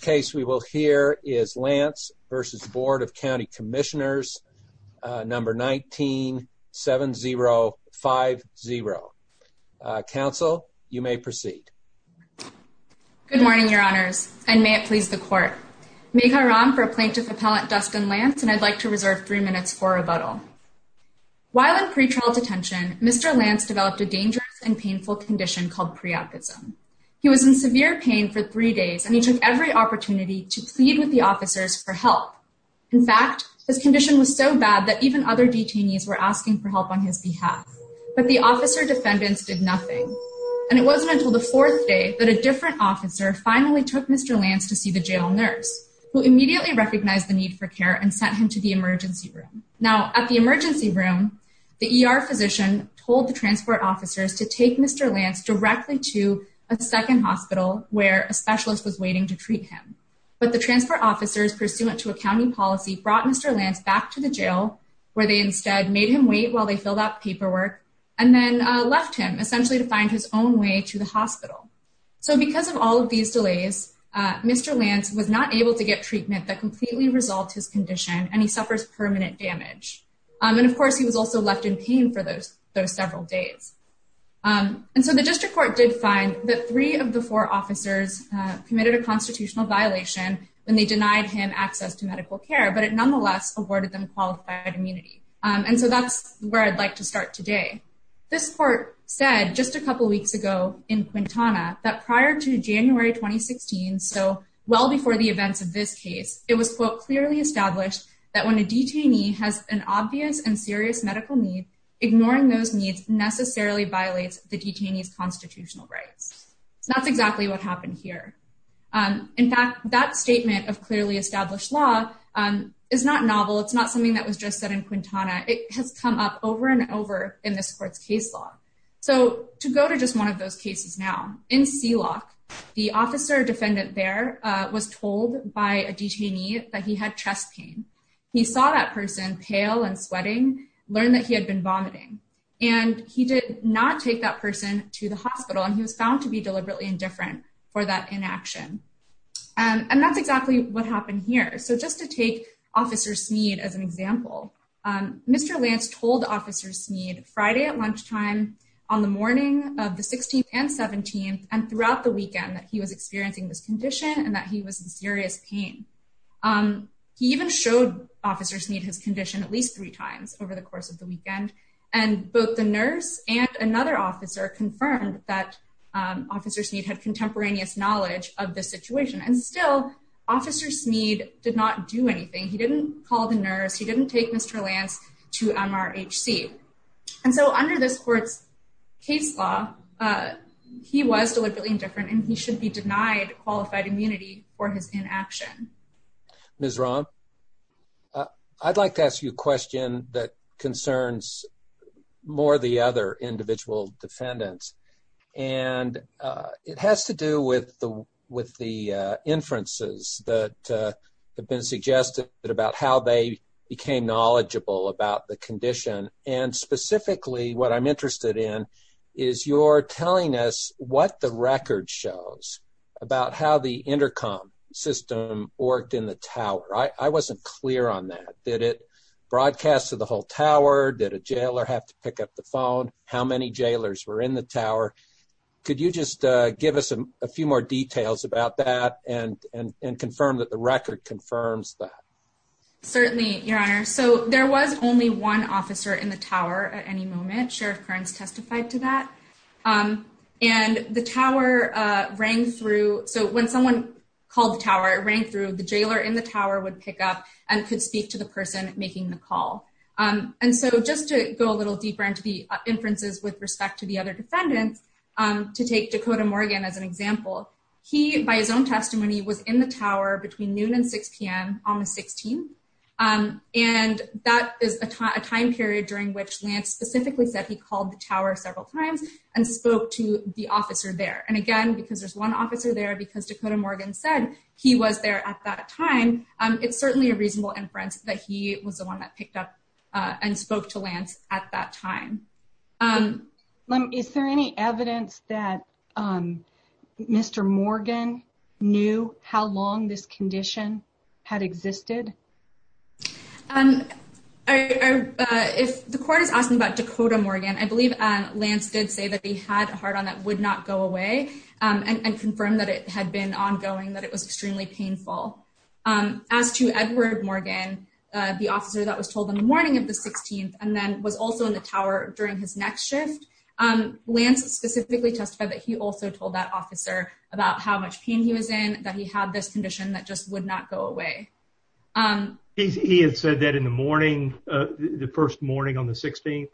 case we will hear is Lance v. Board of County Commissioners, number 197050. Council, you may proceed. Good morning, Your Honors, and may it please the Court. Miigwetch for Plaintiff Appellant Dustin Lance, and I'd like to reserve three minutes for rebuttal. While in pretrial detention, Mr. Lance developed a dangerous and painful condition called preoptism. He was in severe pain for three days, and he took every opportunity to plead with the officers for help. In fact, his condition was so bad that even other detainees were asking for help on his behalf. But the officer defendants did nothing. And it wasn't until the fourth day that a different officer finally took Mr. Lance to see the jail nurse, who immediately recognized the need for care and sent him to the emergency room. Now at the emergency room, the ER physician told the transport officers to take Mr. Lance directly to a second hospital where a specialist was waiting to treat him. But the transfer officers pursuant to a county policy brought Mr. Lance back to the jail, where they instead made him wait while they filled out paperwork, and then left him essentially to find his own way to the hospital. So because of all of these delays, Mr. Lance was not able to get treatment that completely resolved his condition, and he suffers permanent damage. And of course, he was also left in pain for those several days. And so the district court did find that three of the four officers committed a constitutional violation when they denied him access to medical care, but it nonetheless awarded them qualified immunity. And so that's where I'd like to start today. This court said just a couple weeks ago in Quintana that prior to January 2016, so well before the events of this case, it was clearly established that when a detainee has an obvious and serious medical need, ignoring those needs necessarily violates the detainee's constitutional rights. So that's exactly what happened here. In fact, that statement of clearly established law is not novel. It's not something that was just said in Quintana. It has come up over and over in this court's case law. So to go to just one of those cases now, in Sealock, the officer defendant there was told by a detainee that he had chest pain. He saw that person pale and sweating, learned that he had been vomiting, and he did not take that person to the hospital. And he was found to be deliberately indifferent for that inaction. And that's exactly what happened here. So just to take Officer Smead as an example, Mr. Lance told Officer Smead Friday at lunchtime, on the morning of the 16th and 17th, and throughout the weekend that he was experiencing this condition and that he was in serious pain. He even showed Officer Smead his condition at least three times over the course of the weekend. And both the nurse and another officer confirmed that Officer Smead had contemporaneous knowledge of the situation. And still, Officer Smead did not do anything. He didn't call the nurse. He didn't take Mr. Lance to MRHC. And so under this court's case law, he was deliberately indifferent, and he should be concerns more the other individual defendants. And it has to do with the inferences that have been suggested about how they became knowledgeable about the condition. And specifically, what I'm interested in is your telling us what the record shows about how the intercom system worked in the broadcast of the whole tower. Did a jailer have to pick up the phone? How many jailers were in the tower? Could you just give us a few more details about that and confirm that the record confirms that? Certainly, Your Honor. So there was only one officer in the tower at any moment. Sheriff Kearns testified to that. And the tower rang through. So when someone called the tower, it rang through, the jailer in the tower would pick up and could speak to the person making the call. And so just to go a little deeper into the inferences with respect to the other defendants, to take Dakota Morgan as an example, he, by his own testimony, was in the tower between noon and 6pm on the 16th. And that is a time period during which Lance specifically said he called the tower several times and spoke to the officer there. And again, because there's one officer there, because Dakota Morgan said he was there at that time, it's certainly a reasonable inference that he was the one who picked up and spoke to Lance at that time. Is there any evidence that Mr. Morgan knew how long this condition had existed? If the court is asking about Dakota Morgan, I believe Lance did say that he had a hard-on that would not go away, and confirmed that it had been ongoing, that it was extremely painful. As to Edward Morgan, the officer that was told in the morning of the 16th, and then was also in the tower during his next shift, Lance specifically testified that he also told that officer about how much pain he was in, that he had this condition that just would not go away. He had said that in the morning, the first morning on the 16th?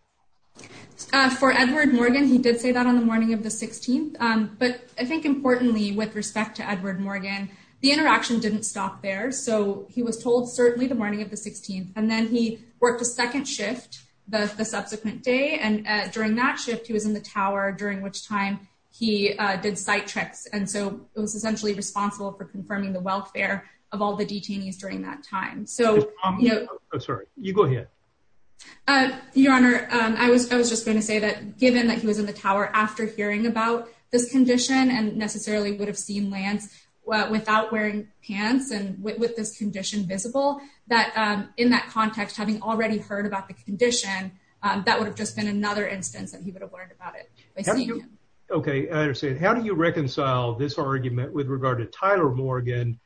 For Edward Morgan, he did say that on the morning of the 16th. But I think importantly, with respect to Edward Morgan, the interaction didn't stop there. So he was told certainly the morning of the 16th, and then he worked a second shift the subsequent day. And during that shift, he was in the tower, during which time he did sight checks. And so it was essentially responsible for confirming the welfare of all the detainees during that time. So, you know, I'm sorry, you go ahead. Your Honor, I was just going to say that given that he was in the tower after hearing about this without wearing pants and with this condition visible, that in that context, having already heard about the condition, that would have just been another instance that he would have learned about it. Okay, I understand. How do you reconcile this argument with regard to Tyler Morgan,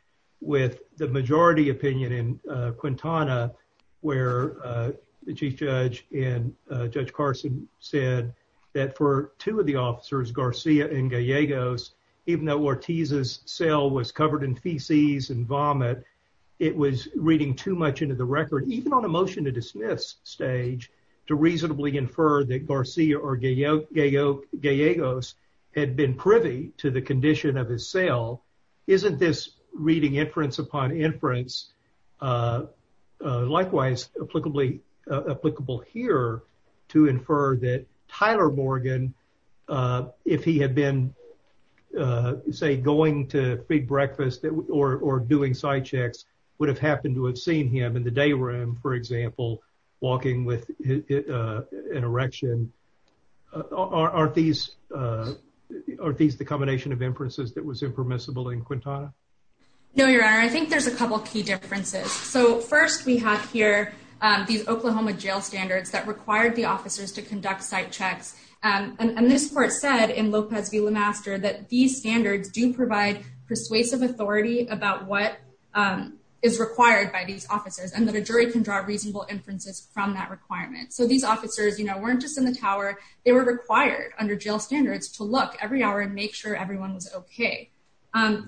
with the majority opinion in Quintana, where the Chief Judge and Judge Carson said that for two of the officers, Garcia and Gallegos, even though Ortiz's cell was covered in feces and vomit, it was reading too much into the record, even on a motion to dismiss stage, to reasonably infer that Garcia or Gallegos had been privy to the condition of his cell. Isn't this reading inference upon inference likewise applicable here to infer that Tyler Morgan, if he had been, say, going to feed breakfast or doing sight checks, would have happened to have seen him in the day room, for example, walking with an erection. Aren't these the combination of inferences that was impermissible in Quintana? No, Your Honor. I think there's a couple key differences. So first, we have here these Oklahoma jail standards that required the officers to conduct sight checks. And this court said in Lopez v. Lemaster that these standards do provide persuasive authority about what is required by these officers, and that a jury can draw reasonable inferences from that requirement. So these officers, you know, weren't just in the tower. They were required under jail standards to look every hour and make sure everyone was okay.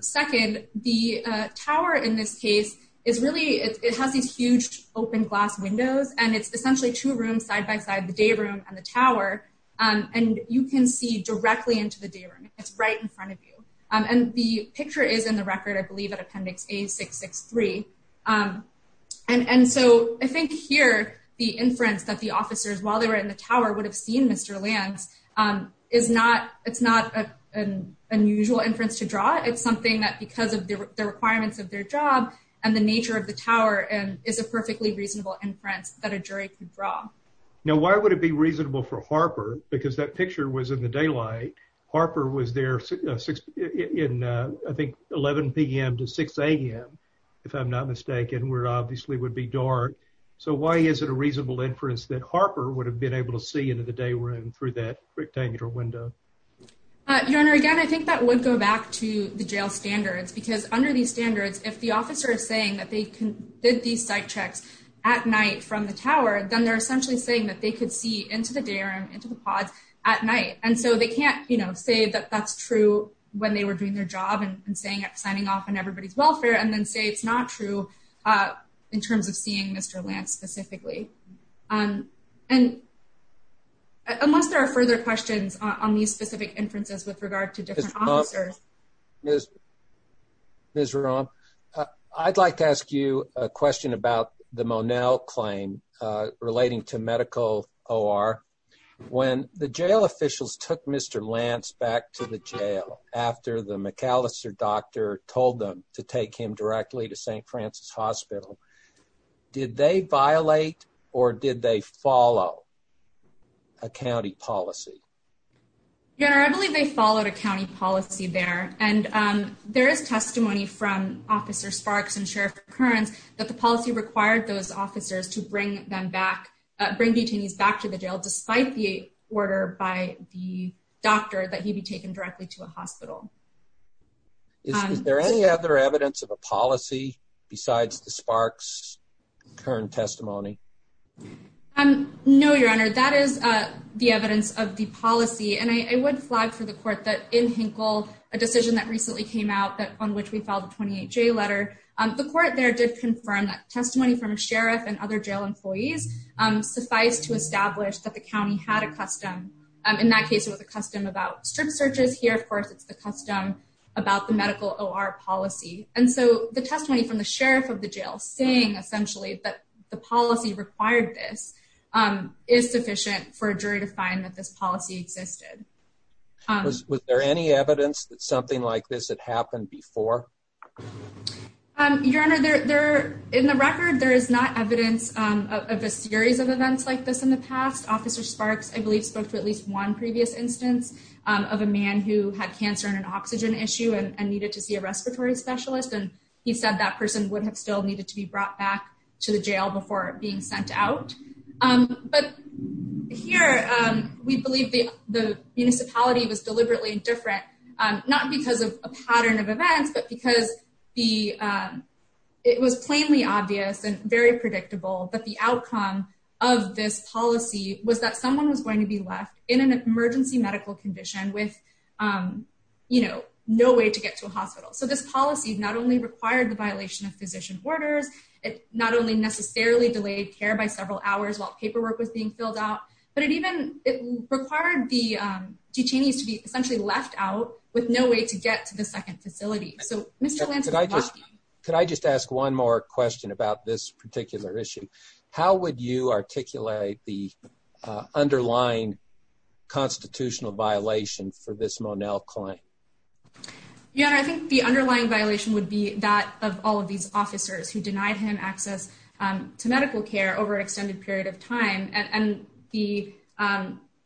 Second, the tower in this case is really, it has these huge open glass windows, and it's essentially two rooms side by side, the day room and the tower. And you can see directly into the day room. It's right in front of you. And the picture is in the record, I believe, at Appendix A663. And so I think here, the inference that the officers, while they were in the tower, would have seen Mr. Lambs is not, it's not an unusual inference to draw. It's something that because of the requirements of their job and the nature of the tower is a perfectly reasonable inference that a jury could draw. Now, why would it be reasonable for Harper? Because that picture was in the daylight. Harper was there in, I think, 11 p.m. to 6 a.m., if I'm not mistaken, where it obviously would be dark. So why is it a reasonable inference that Harper would have been able to see into the day room through that rectangular window? Your Honor, again, I think that would go back to the jail standards. Because under these standards, if the officer is saying that they did these site checks at night from the tower, then they're essentially saying that they could see into the day room, into the pods at night. And so they can't, you know, say that that's true when they were doing their job and saying, signing off on and unless there are further questions on these specific inferences with regard to different officers. Ms. Rom, I'd like to ask you a question about the Monell claim relating to medical OR. When the jail officials took Mr. Lance back to the jail after the McAllister doctor told them to follow a county policy. Your Honor, I believe they followed a county policy there. And there is testimony from Officer Sparks and Sheriff Kearns that the policy required those officers to bring them back, bring detainees back to the jail despite the order by the doctor that he be taken directly to a hospital. Is there any other evidence of a policy besides the Sparks' current testimony? No, Your Honor, that is the evidence of the policy. And I would flag for the court that in Hinkle, a decision that recently came out that on which we filed a 28-J letter, the court there did confirm that testimony from a sheriff and other jail employees suffice to establish that the county had a custom. In that case, it was a custom about strip searches here. Of course, it's the custom about the medical OR policy. And so the testimony from the sheriff of the jail saying essentially that the policy required this is sufficient for a jury to find that this policy existed. Was there any evidence that something like this had happened before? Your Honor, in the record, there is not evidence of a series of events like this in the past. Officer Sparks, I believe, spoke to at least one previous instance of a man who had cancer and oxygen issue and needed to see a respiratory specialist. And he said that person would have still needed to be brought back to the jail before being sent out. But here, we believe the municipality was deliberately indifferent, not because of a pattern of events, but because it was plainly obvious and very predictable that the outcome of this policy was that someone was no way to get to a hospital. So this policy not only required the violation of physician orders, it not only necessarily delayed care by several hours while paperwork was being filled out, but it required the detainees to be essentially left out with no way to get to the second facility. Could I just ask one more question about this particular issue? How would you articulate the Your Honor, I think the underlying violation would be that of all of these officers who denied him access to medical care over an extended period of time. And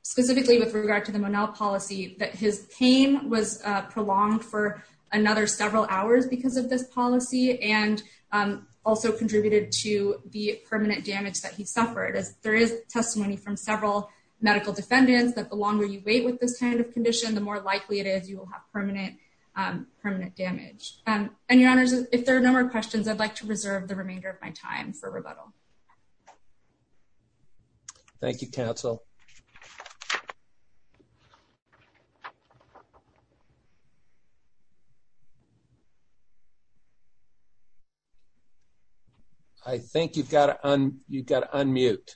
specifically with regard to the Monell policy, that his pain was prolonged for another several hours because of this policy and also contributed to the permanent damage that he suffered. There is testimony from several medical defendants that the longer you wait with this kind of condition, the more likely it is you have permanent damage. And Your Honors, if there are no more questions, I'd like to reserve the remainder of my time for rebuttal. Thank you, counsel. I think you've got to unmute.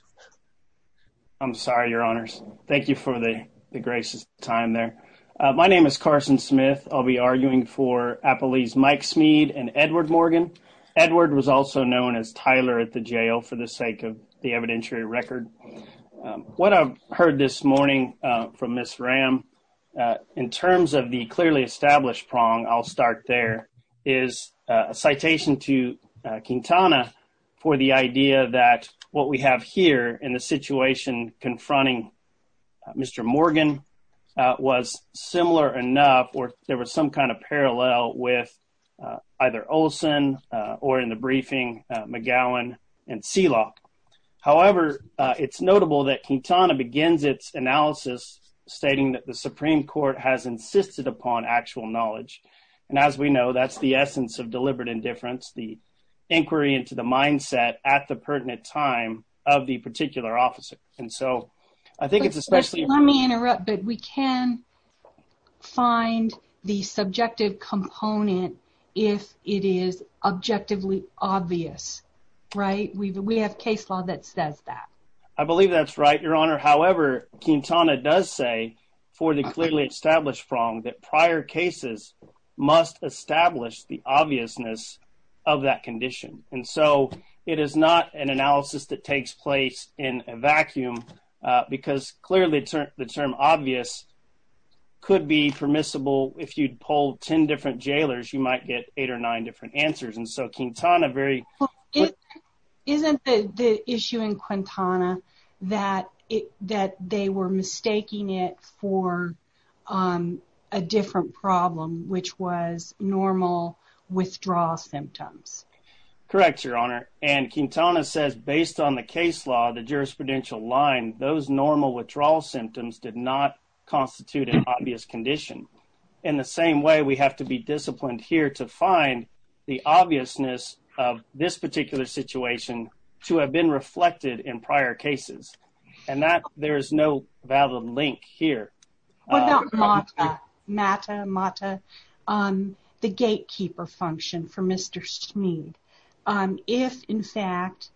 I'm sorry, Your Honors. Thank you for the gracious time there. My name is Carson Smith. I'll be arguing for Appellees Mike Smeed and Edward Morgan. Edward was also known as Tyler at the jail for the sake of the evidentiary record. What I've heard this morning from Ms. Ram, in terms of the clearly established prong, I'll start there, is a citation to Quintana for the idea that what we have here in the situation confronting Mr. Morgan was similar enough or there was some kind of parallel with either Olson or in the briefing McGowan and Seelock. However, it's notable that Quintana begins its analysis stating that the Supreme Court has insisted upon actual knowledge. And as we know, that's the essence of deliberate indifference, the inquiry into the mindset at the pertinent time of the I think it's especially- Let me interrupt, but we can find the subjective component if it is objectively obvious, right? We have case law that says that. I believe that's right, Your Honor. However, Quintana does say for the clearly established prong that prior cases must establish the obviousness of that condition. And so, it is not an analysis that takes place in a vacuum because clearly the term obvious could be permissible if you'd pull 10 different jailers, you might get eight or nine different answers. And so, Quintana very- Isn't the issue in Quintana that they were mistaking it for a different problem, which was normal withdrawal symptoms? Correct, Your Honor. And Quintana says based on the case law, the jurisprudential line, those normal withdrawal symptoms did not constitute an obvious condition. In the same way, we have to be disciplined here to find the obviousness of this particular situation to have been reflected in prior cases. And that, there is no valid link here. What about MATA, the gatekeeper function for Mr. Smead? If, in fact,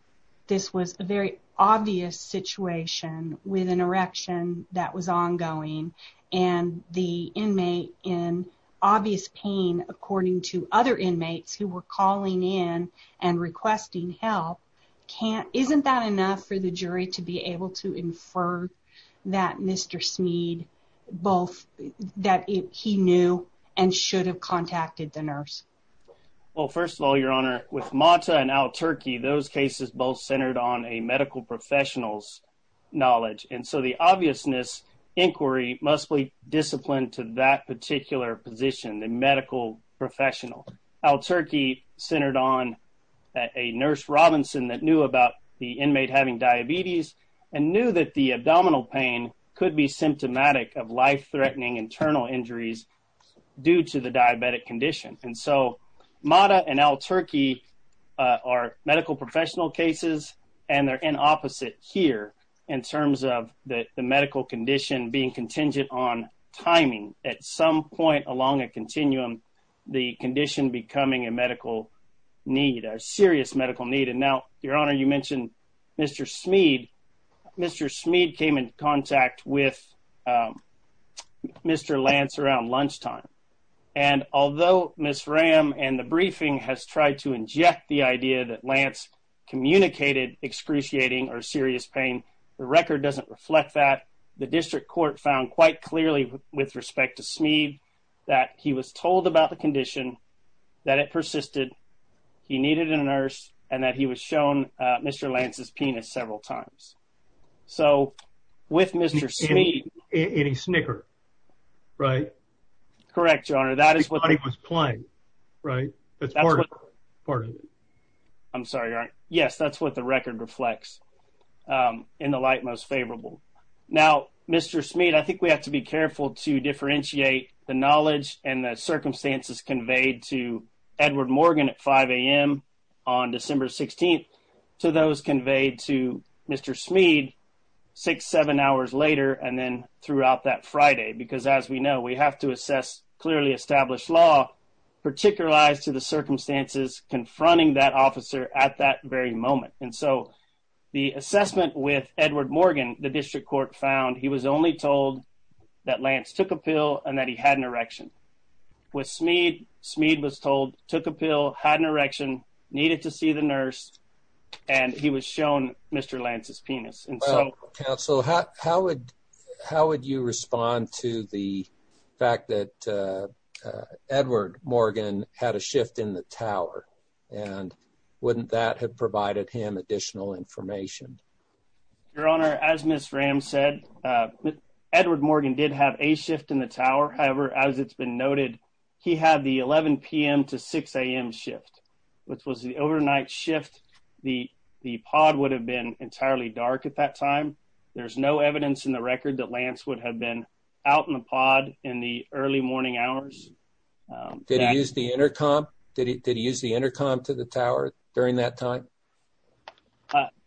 this was a very obvious situation with an erection that was ongoing and the inmate in obvious pain according to other inmates who were calling in and requesting help, can't- Isn't that enough for the jury to be able to infer that Mr. Smead both- that he knew and should have contacted the nurse? Well, first of all, Your Honor, with MATA and Al-Turki, those cases both centered on a medical professional's knowledge. And so, the obviousness inquiry must be disciplined to that particular position, the medical professional. Al-Turki centered on a nurse Robinson that knew about the inmate having diabetes and knew that the abdominal pain could be symptomatic of life threatening internal injuries due to the diabetic condition. And so, MATA and Al-Turki are medical professional cases and they're in opposite here in terms of the medical condition being contingent on at some point along a continuum, the condition becoming a medical need, a serious medical need. And now, Your Honor, you mentioned Mr. Smead. Mr. Smead came in contact with Mr. Lance around lunchtime. And although Ms. Ram and the briefing has tried to inject the idea that Lance communicated excruciating or serious pain, the record doesn't reflect that. The district court found quite clearly with respect to Smead that he was told about the condition, that it persisted, he needed a nurse, and that he was shown Mr. Lance's penis several times. So, with Mr. Smead... In a snicker, right? Correct, Your Honor. That is what... He thought he was playing, right? That's part of it. I'm sorry, Your Honor. Yes, that's what the record reflects in the light most favorable. Now, Mr. Smead, I think we have to be careful to differentiate the knowledge and the circumstances conveyed to Edward Morgan at 5 a.m. on December 16th to those conveyed to Mr. Smead six, seven hours later and then throughout that Friday. Because as we know, we have to assess clearly established law, particularize to the circumstances confronting that officer at that very moment. And so, the assessment with Edward Morgan, the district court found he was only told that Lance took a pill and that he had an erection. With Smead, Smead was told, took a pill, had an erection, needed to see the nurse, and he was shown Mr. Lance's penis. Well, counsel, how would you respond to the fact that Edward Morgan had a shift in the tower? And wouldn't that have provided him additional information? Your Honor, as Ms. Ram said, Edward Morgan did have a shift in the tower. However, as it's been noted, he had the 11 p.m. to 6 a.m. shift, which was the overnight shift. The pod would have been entirely dark at that time. There's no evidence in the record that Lance would have been out in the pod in the early morning hours. Did he use the intercom? Did he use the intercom to the tower during that time?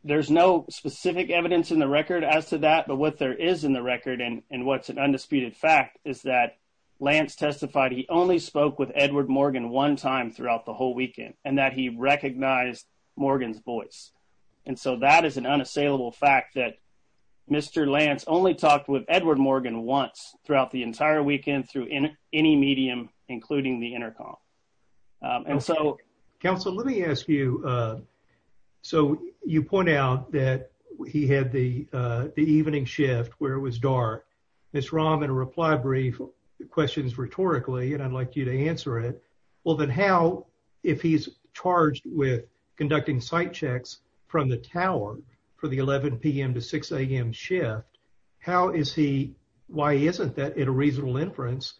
There's no specific evidence in the record as to that, but what there is in the record and what's an undisputed fact is that Lance testified he only spoke with Edward Morgan one time throughout the whole weekend and that he recognized Morgan's voice. And so, that is an unassailable fact that Mr. Lance only talked with Edward Morgan once throughout the entire weekend through any medium, including the intercom. And so, counsel, let me ask you, so you point out that he had the evening shift where it was dark. Ms. Ram, in a reply brief, questions rhetorically, and I'd like you to answer it. Well, then how, if he's charged with conducting sight checks from the tower for the shift, how is he, why isn't that a reasonable inference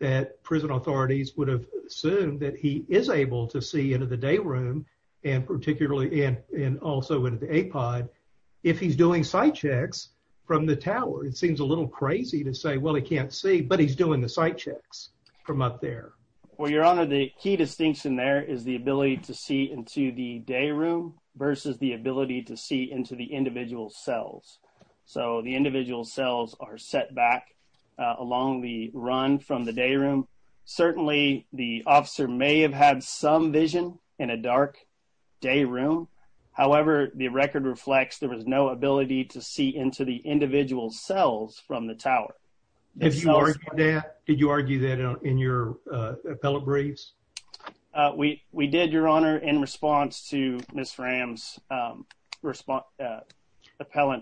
that prison authorities would have assumed that he is able to see into the day room and particularly, and also into the A pod, if he's doing sight checks from the tower? It seems a little crazy to say, well, he can't see, but he's doing the sight checks from up there. Well, your honor, the key distinction there is the ability to see into the day room versus the ability to see into the individual cells. So, the individual cells are set back along the run from the day room. Certainly, the officer may have had some vision in a dark day room. However, the record reflects there was no ability to see into the individual cells from the tower. Did you argue that in your appellate briefs? We did, your honor, in response to Ms. Fram's appellate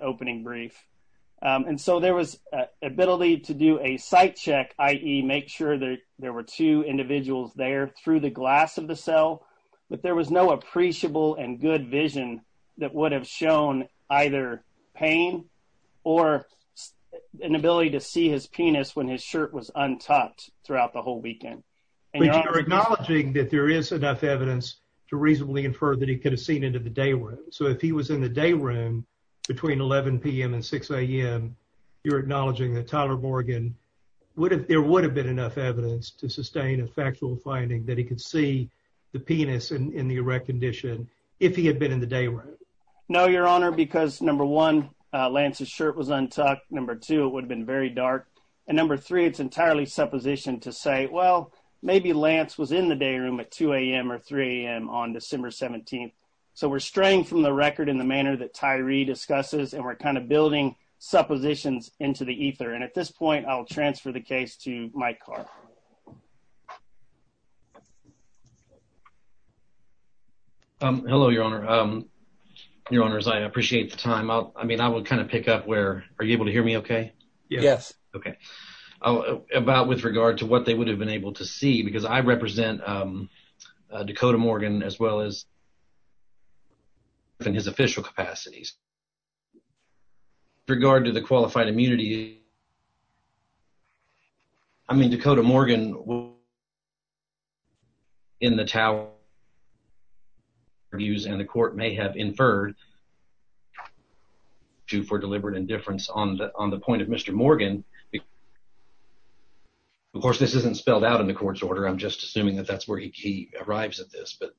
opening brief. And so, there was ability to do a sight check, i.e. make sure that there were two individuals there through the glass of the cell, but there was no appreciable and good vision that would have shown either pain or an ability to see his penis when his shirt was untucked throughout the whole weekend. But you're acknowledging that there is enough evidence to reasonably infer that he could have seen into the day room. So, if he was in the day room between 11 p.m. and 6 a.m., you're acknowledging that Tyler Morgan, there would have been enough evidence to sustain a factual finding that he could see the penis in the erect condition if he had been in the day room. No, your honor, because number one, Lance's shirt was untucked. Number two, it would have been very dark. And maybe Lance was in the day room at 2 a.m. or 3 a.m. on December 17th. So, we're straying from the record in the manner that Tyree discusses, and we're kind of building suppositions into the ether. And at this point, I'll transfer the case to Mike Carr. Hello, your honor. Your honors, I appreciate the time. I mean, I would kind of pick up where, are you able to hear me okay? Yes. Okay. About with regard to what they would have been able to see, because I represent Dakota Morgan, as well as in his official capacities. With regard to the qualified immunity, I mean, Dakota Morgan will in the TOW and the court may have inferred to for deliberate indifference on the point of Mr. Morgan. Of course, this isn't spelled out in the court's order. I'm just assuming that that's where he arrives at this, but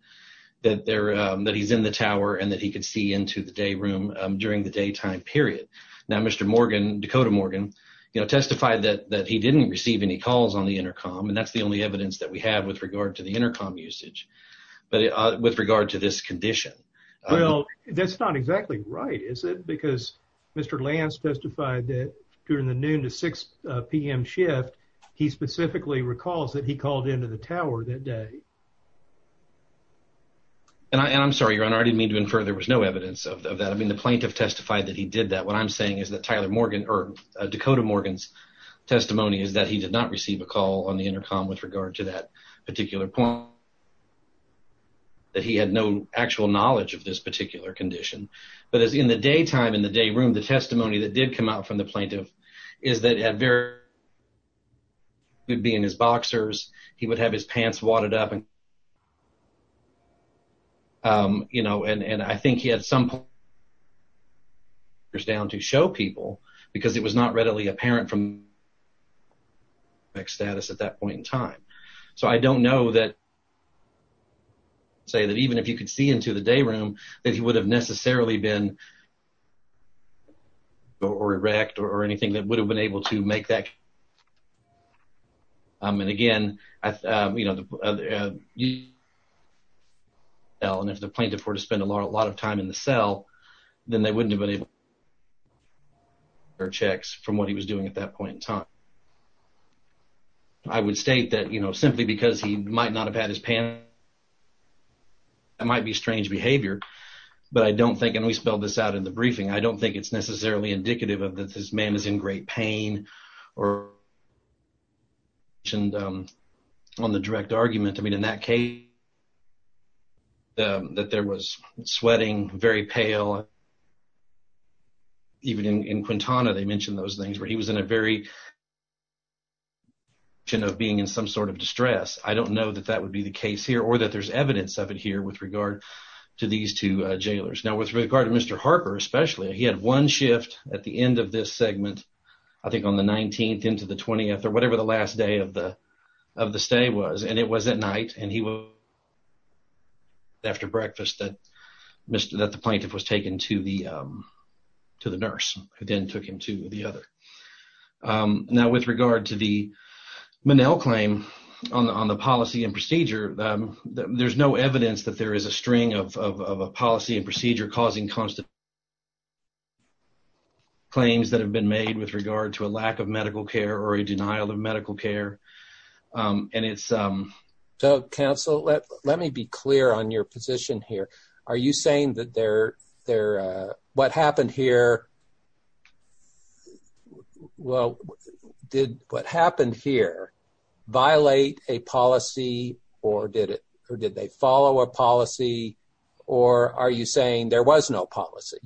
that he's in the TOW and that he could see into the day room during the daytime period. Now, Mr. Morgan, Dakota Morgan, testified that he didn't receive any calls on the intercom. And that's the only evidence that we have with regard to the intercom usage. But with regard to this condition. Well, that's not exactly right, is it? Because Mr. Lance testified that during the noon to 6 p.m. shift, he specifically recalls that he called into the TOW that day. And I'm sorry, your honor, I didn't mean to infer there was no evidence of that. I mean, the plaintiff testified that he did that. What I'm saying is that Tyler Morgan or Dakota Morgan's testimony is that he did not receive a call on the intercom with regard to that particular point. That he had no actual knowledge of this particular condition. But as in the daytime, in the day room, the testimony that did come out from the plaintiff is that he would be in his boxers. He would have his pants wadded up. You know, and I think he had some down to show people because it was not readily apparent from status at that point in time. So I don't know that. I would say that even if you could see into the day room, that he would have necessarily been or erect or anything that would have been able to make that. And again, you know, well, and if the plaintiff were to spend a lot of time in the cell, then they wouldn't have been able to check from what he was doing at that point in time. And I would state that, you know, simply because he might not have had his pants wadded up, that might be strange behavior. But I don't think, and we spelled this out in the briefing, I don't think it's necessarily indicative of that this man is in great pain or mentioned on the direct argument. I mean, in that case, that there was sweating, very pale. And even in Quintana, they mentioned those things where he was in a very of being in some sort of distress. I don't know that that would be the case here or that there's evidence of it here with regard to these two jailers. Now with regard to Mr. Harper, especially, he had one shift at the end of this segment, I think on the 19th into the 20th or whatever the last day of the of the stay was, and it was at night and he was after breakfast that Mr. that the plaintiff was taken to the to the nurse who then took him to the other. Now with regard to the Monell claim on the policy and procedure, there's no evidence that there is a string of policy and procedure causing constant claims that have been made with regard to a lack of medical care or a denial of medical care. And it's so counsel, let me be clear on your position here. Are you saying that they're there? What happened here? Well, did what happened here violate a policy or did it? Or did they follow a policy? Or are you saying there was no policy?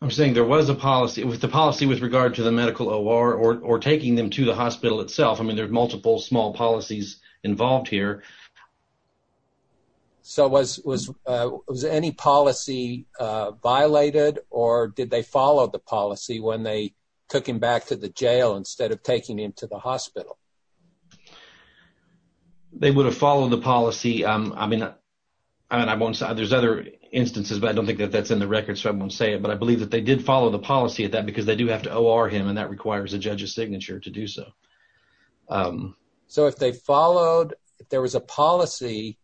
I'm saying there was a policy with the policy with regard to the medical or or taking them to the hospital itself. I mean, there's multiple small policies involved here. So was was was any policy violated? Or did they follow the policy when they took him back to the jail instead of taking him to the hospital? They would have followed the policy. I mean, I mean, I won't say there's other instances, but I don't think that that's in the record. So I won't say it. But I believe that they did follow the policy at that time because they do have to OR him and that requires a judge's signature to do so. So if they followed, if there was a policy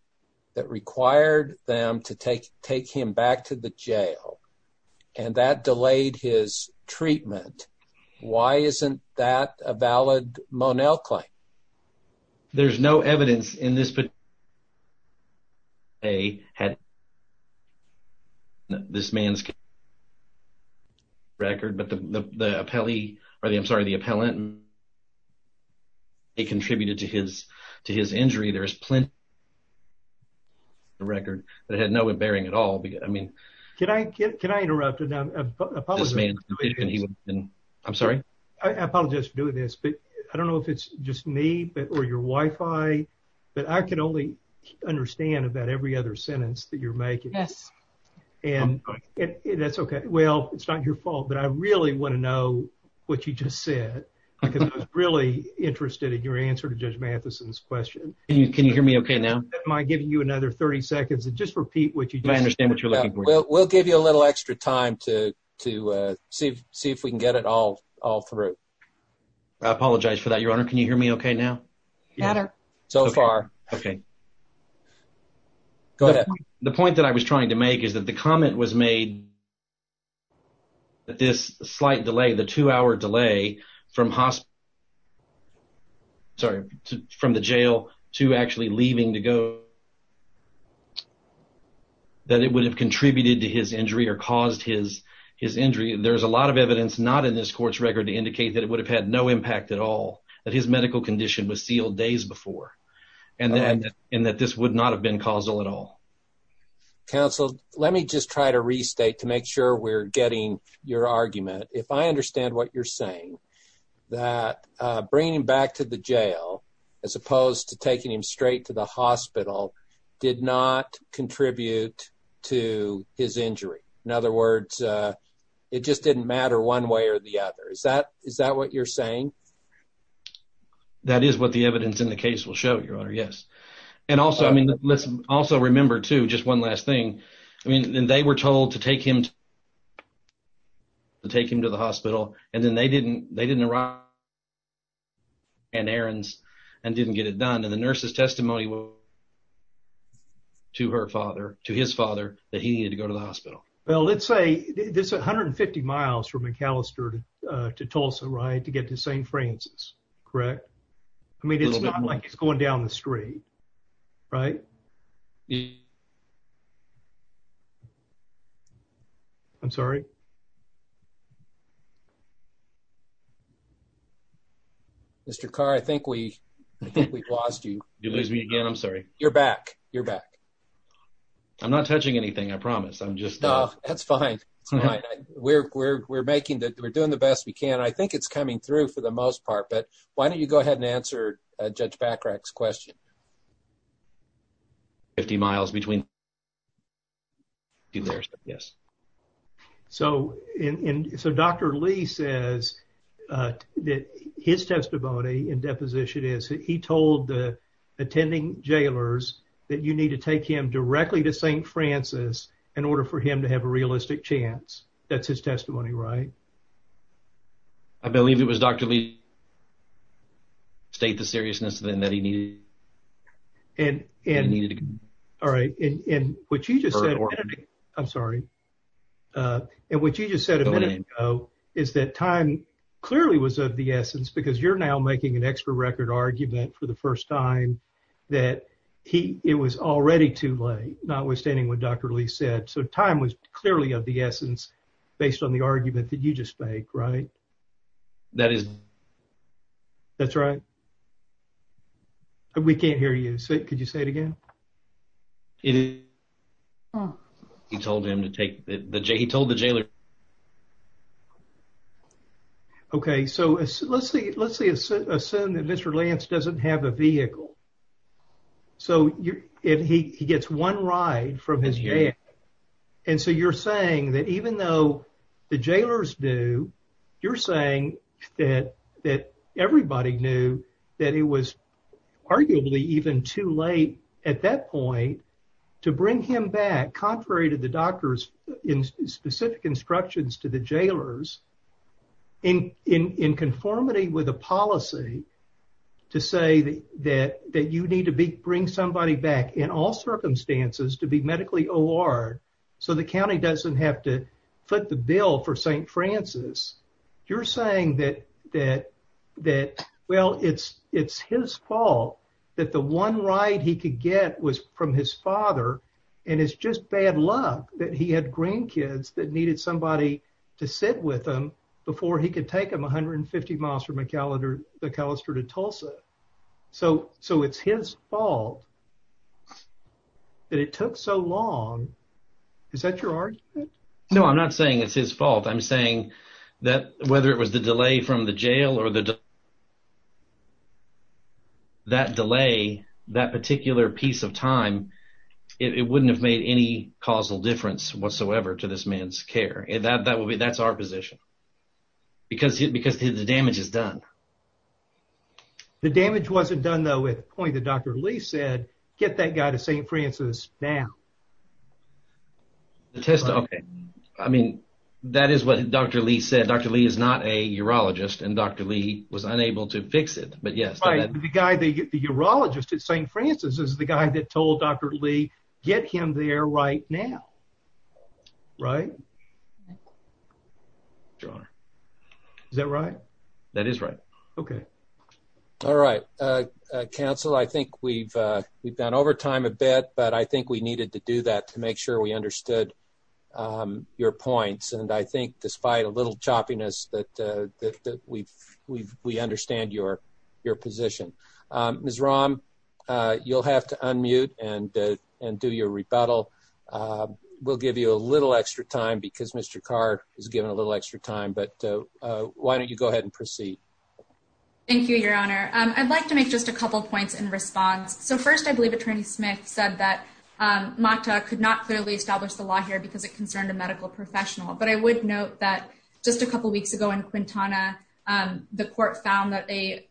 that required them to take take him back to the jail and that delayed his treatment, why isn't that a valid Monell claim? There's no evidence in this case that they had this man's record, but the appellee or the I'm sorry, the appellant they contributed to his to his injury. There is plenty of record that had no bearing at all. I mean, can I can I interrupt it now? I'm sorry, I apologize for doing this, but I don't know if it's just me or your Wi-Fi, but I can only understand about every other sentence that you're making. Yes, and that's OK. Well, it's not your fault, but I really want to know what you just said because I was really interested in your answer to Judge Matheson's question. Can you hear me OK now? Am I giving you another 30 seconds to just repeat what you understand? We'll give you a little extra time to to see if see if we can get it all all through. I apologize for that, Your Honor. Can you hear me OK now? So far, OK. Go ahead. The point that I was trying to make is that the comment was made that this slight delay, the two hour delay from hospital. Sorry, from the jail to actually leaving to go. That it would have contributed to his injury or caused his his injury. There's a lot of evidence not in this court's record to indicate that it would have had no impact at all, that his medical condition was sealed days before and that this would not have been causal at all. Counsel, let me just try to restate to make sure we're getting your argument. If I understand what you're saying, that bringing him back to the jail as opposed to taking him straight to the hospital did not contribute to his injury. In other words, it just didn't matter one way or the other. Is that is that what you're saying? That is what the evidence in the case will show, Your Honor. Yes. And also, I mean, let's also remember to just one last thing. I mean, they were told to take him. To take him to the hospital, and then they didn't. They didn't arrive. And errands and didn't get it done. And the nurse's testimony. To her father, to his father, that he needed to go to the hospital. Well, let's say this 150 miles from McAllister to Tulsa, right? To get to St. Francis, correct? I mean, it's not like it's going down the street, right? I'm sorry. Mr. Carr, I think we lost you. You lose me again. I'm sorry. You're back. You're back. I'm not touching anything. I promise. I'm just that's fine. We're making that we're doing the best we can. I think it's coming through for the most part. But why don't you go ahead and answer Judge Bacarach's question? 50 miles between. Yes. So it's a doctor. Lee says that his testimony in deposition is he told the jailers that you need to take him directly to St. Francis in order for him to have a realistic chance. That's his testimony, right? I believe it was Dr. Lee. State the seriousness that he needed. All right. And what you just said, I'm sorry. And what you just said a minute ago is that time clearly was of the essence because you're now making an extra record argument for the first time that he it was already too late, notwithstanding what Dr. Lee said. So time was clearly of the essence based on the argument that you just make, right? That is. That's right. We can't hear you. Could you say it again? He told him to take the J. He told the jailer. Okay. So let's say let's say assume that Mr. Lance doesn't have a vehicle. So if he gets one ride from his. And so you're saying that even though the jailers do, you're saying that that everybody knew that it was arguably even too late at that point to bring him back, contrary to the doctors in specific instructions to the jailers in in conformity with a policy to say that that you need to be bring somebody back in all circumstances to be medically award. So the county doesn't have to foot the bill for St. Francis. You're saying that that that well, it's it's his fault that the one ride he could get was from his father. And it's just bad luck that he had grandkids that needed somebody to sit with him before he could take him one hundred and fifty miles from a calendar, the Calister to Tulsa. So so it's his fault that it took so long. Is that your argument? No, I'm not saying it's his fault. I'm saying that whether it was the delay from the jail or the. That delay, that particular piece of time, it wouldn't have made any causal difference whatsoever to this man's care and that that would be that's our position because because the damage is done. The damage wasn't done, though, at the point that Dr. Lee said, get that guy to St. Francis now. The test, OK, I mean, that is what Dr. Lee said. Dr. Lee is not a urologist and Dr. Lee was unable to fix it. But yes, the guy, the urologist at St. Francis is the guy that told Dr. Lee, get him there right now. Right. Is that right? That is right. OK. All right. Counsel, I think we've we've gone over time a bit, but I think we needed to do that to make we understood your points. And I think despite a little choppiness that that we've we've we understand your your position is wrong. You'll have to unmute and and do your rebuttal. We'll give you a little extra time because Mr. Carr is given a little extra time. But why don't you go ahead and proceed? Thank you, Your Honor. I'd like to make just a couple of points in response. So first, I believe Attorney Smith said that Mata could not clearly establish the law here because it concerned a medical professional. But I would note that just a couple of weeks ago in Quintana, the court found that a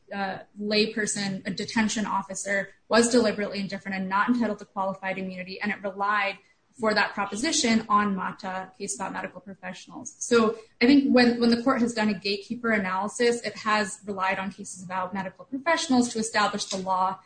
layperson, a detention officer was deliberately indifferent and not entitled to qualified immunity. And it relied for that proposition on Mata case about medical professionals. So I think when when the court has done a gatekeeper analysis, it has relied on cases about medical professionals to establish the law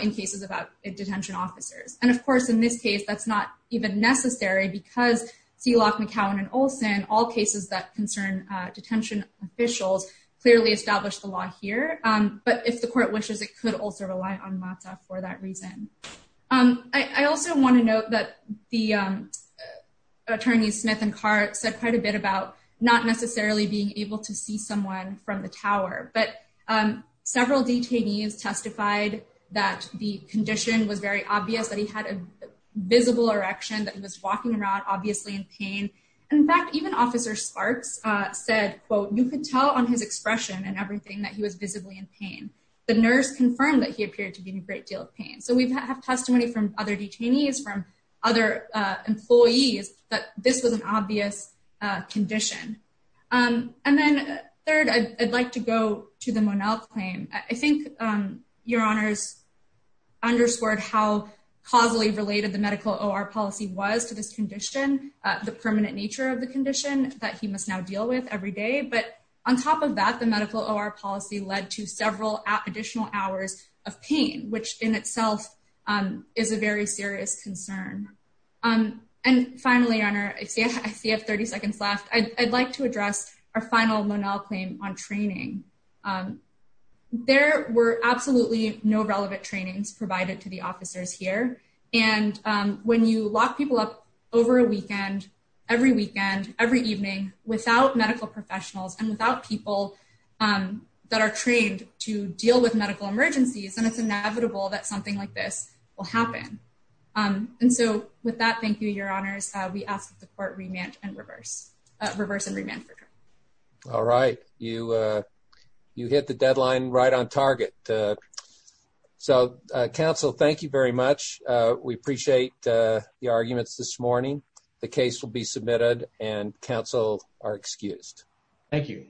in cases about detention officers. And of course, in this case, that's not even necessary because Seelock, McCowan and Olson, all cases that concern detention officials, clearly established the law here. But if the court wishes, it could also rely on Mata for that reason. I also want to note that the attorneys Smith and Carr said quite a bit about not necessarily being able to see someone from the tower. But several detainees testified that the condition was very obvious that he had a visible erection that was walking around, obviously in pain. In fact, even Officer Sparks said, quote, you could tell on his expression and everything that he was visibly in pain. The nurse confirmed that he appeared to be in a great deal of pain. So we have testimony from other detainees from other employees that this was an obvious condition. And then third, I'd like to go to the Monell claim. I think your honors underscored how causally related the medical or policy was to this condition, the permanent nature of the condition that he must now deal with every day. But on top of that, the medical or policy led to several additional hours of pain, which in itself is a very serious concern. And finally, your honor, I see I have 30 seconds left. I'd like to address our final Monell claim on training. There were absolutely no relevant trainings provided to the officers here. And when you lock people up over a weekend, every weekend, every evening without medical professionals and without people that are trained to deal with this will happen. And so with that, thank you, your honors. We ask that the court remand and reverse reverse and remand. All right. You you hit the deadline right on target. So, counsel, thank you very much. We appreciate the arguments this morning. The case will be submitted and counsel are excused. Thank you.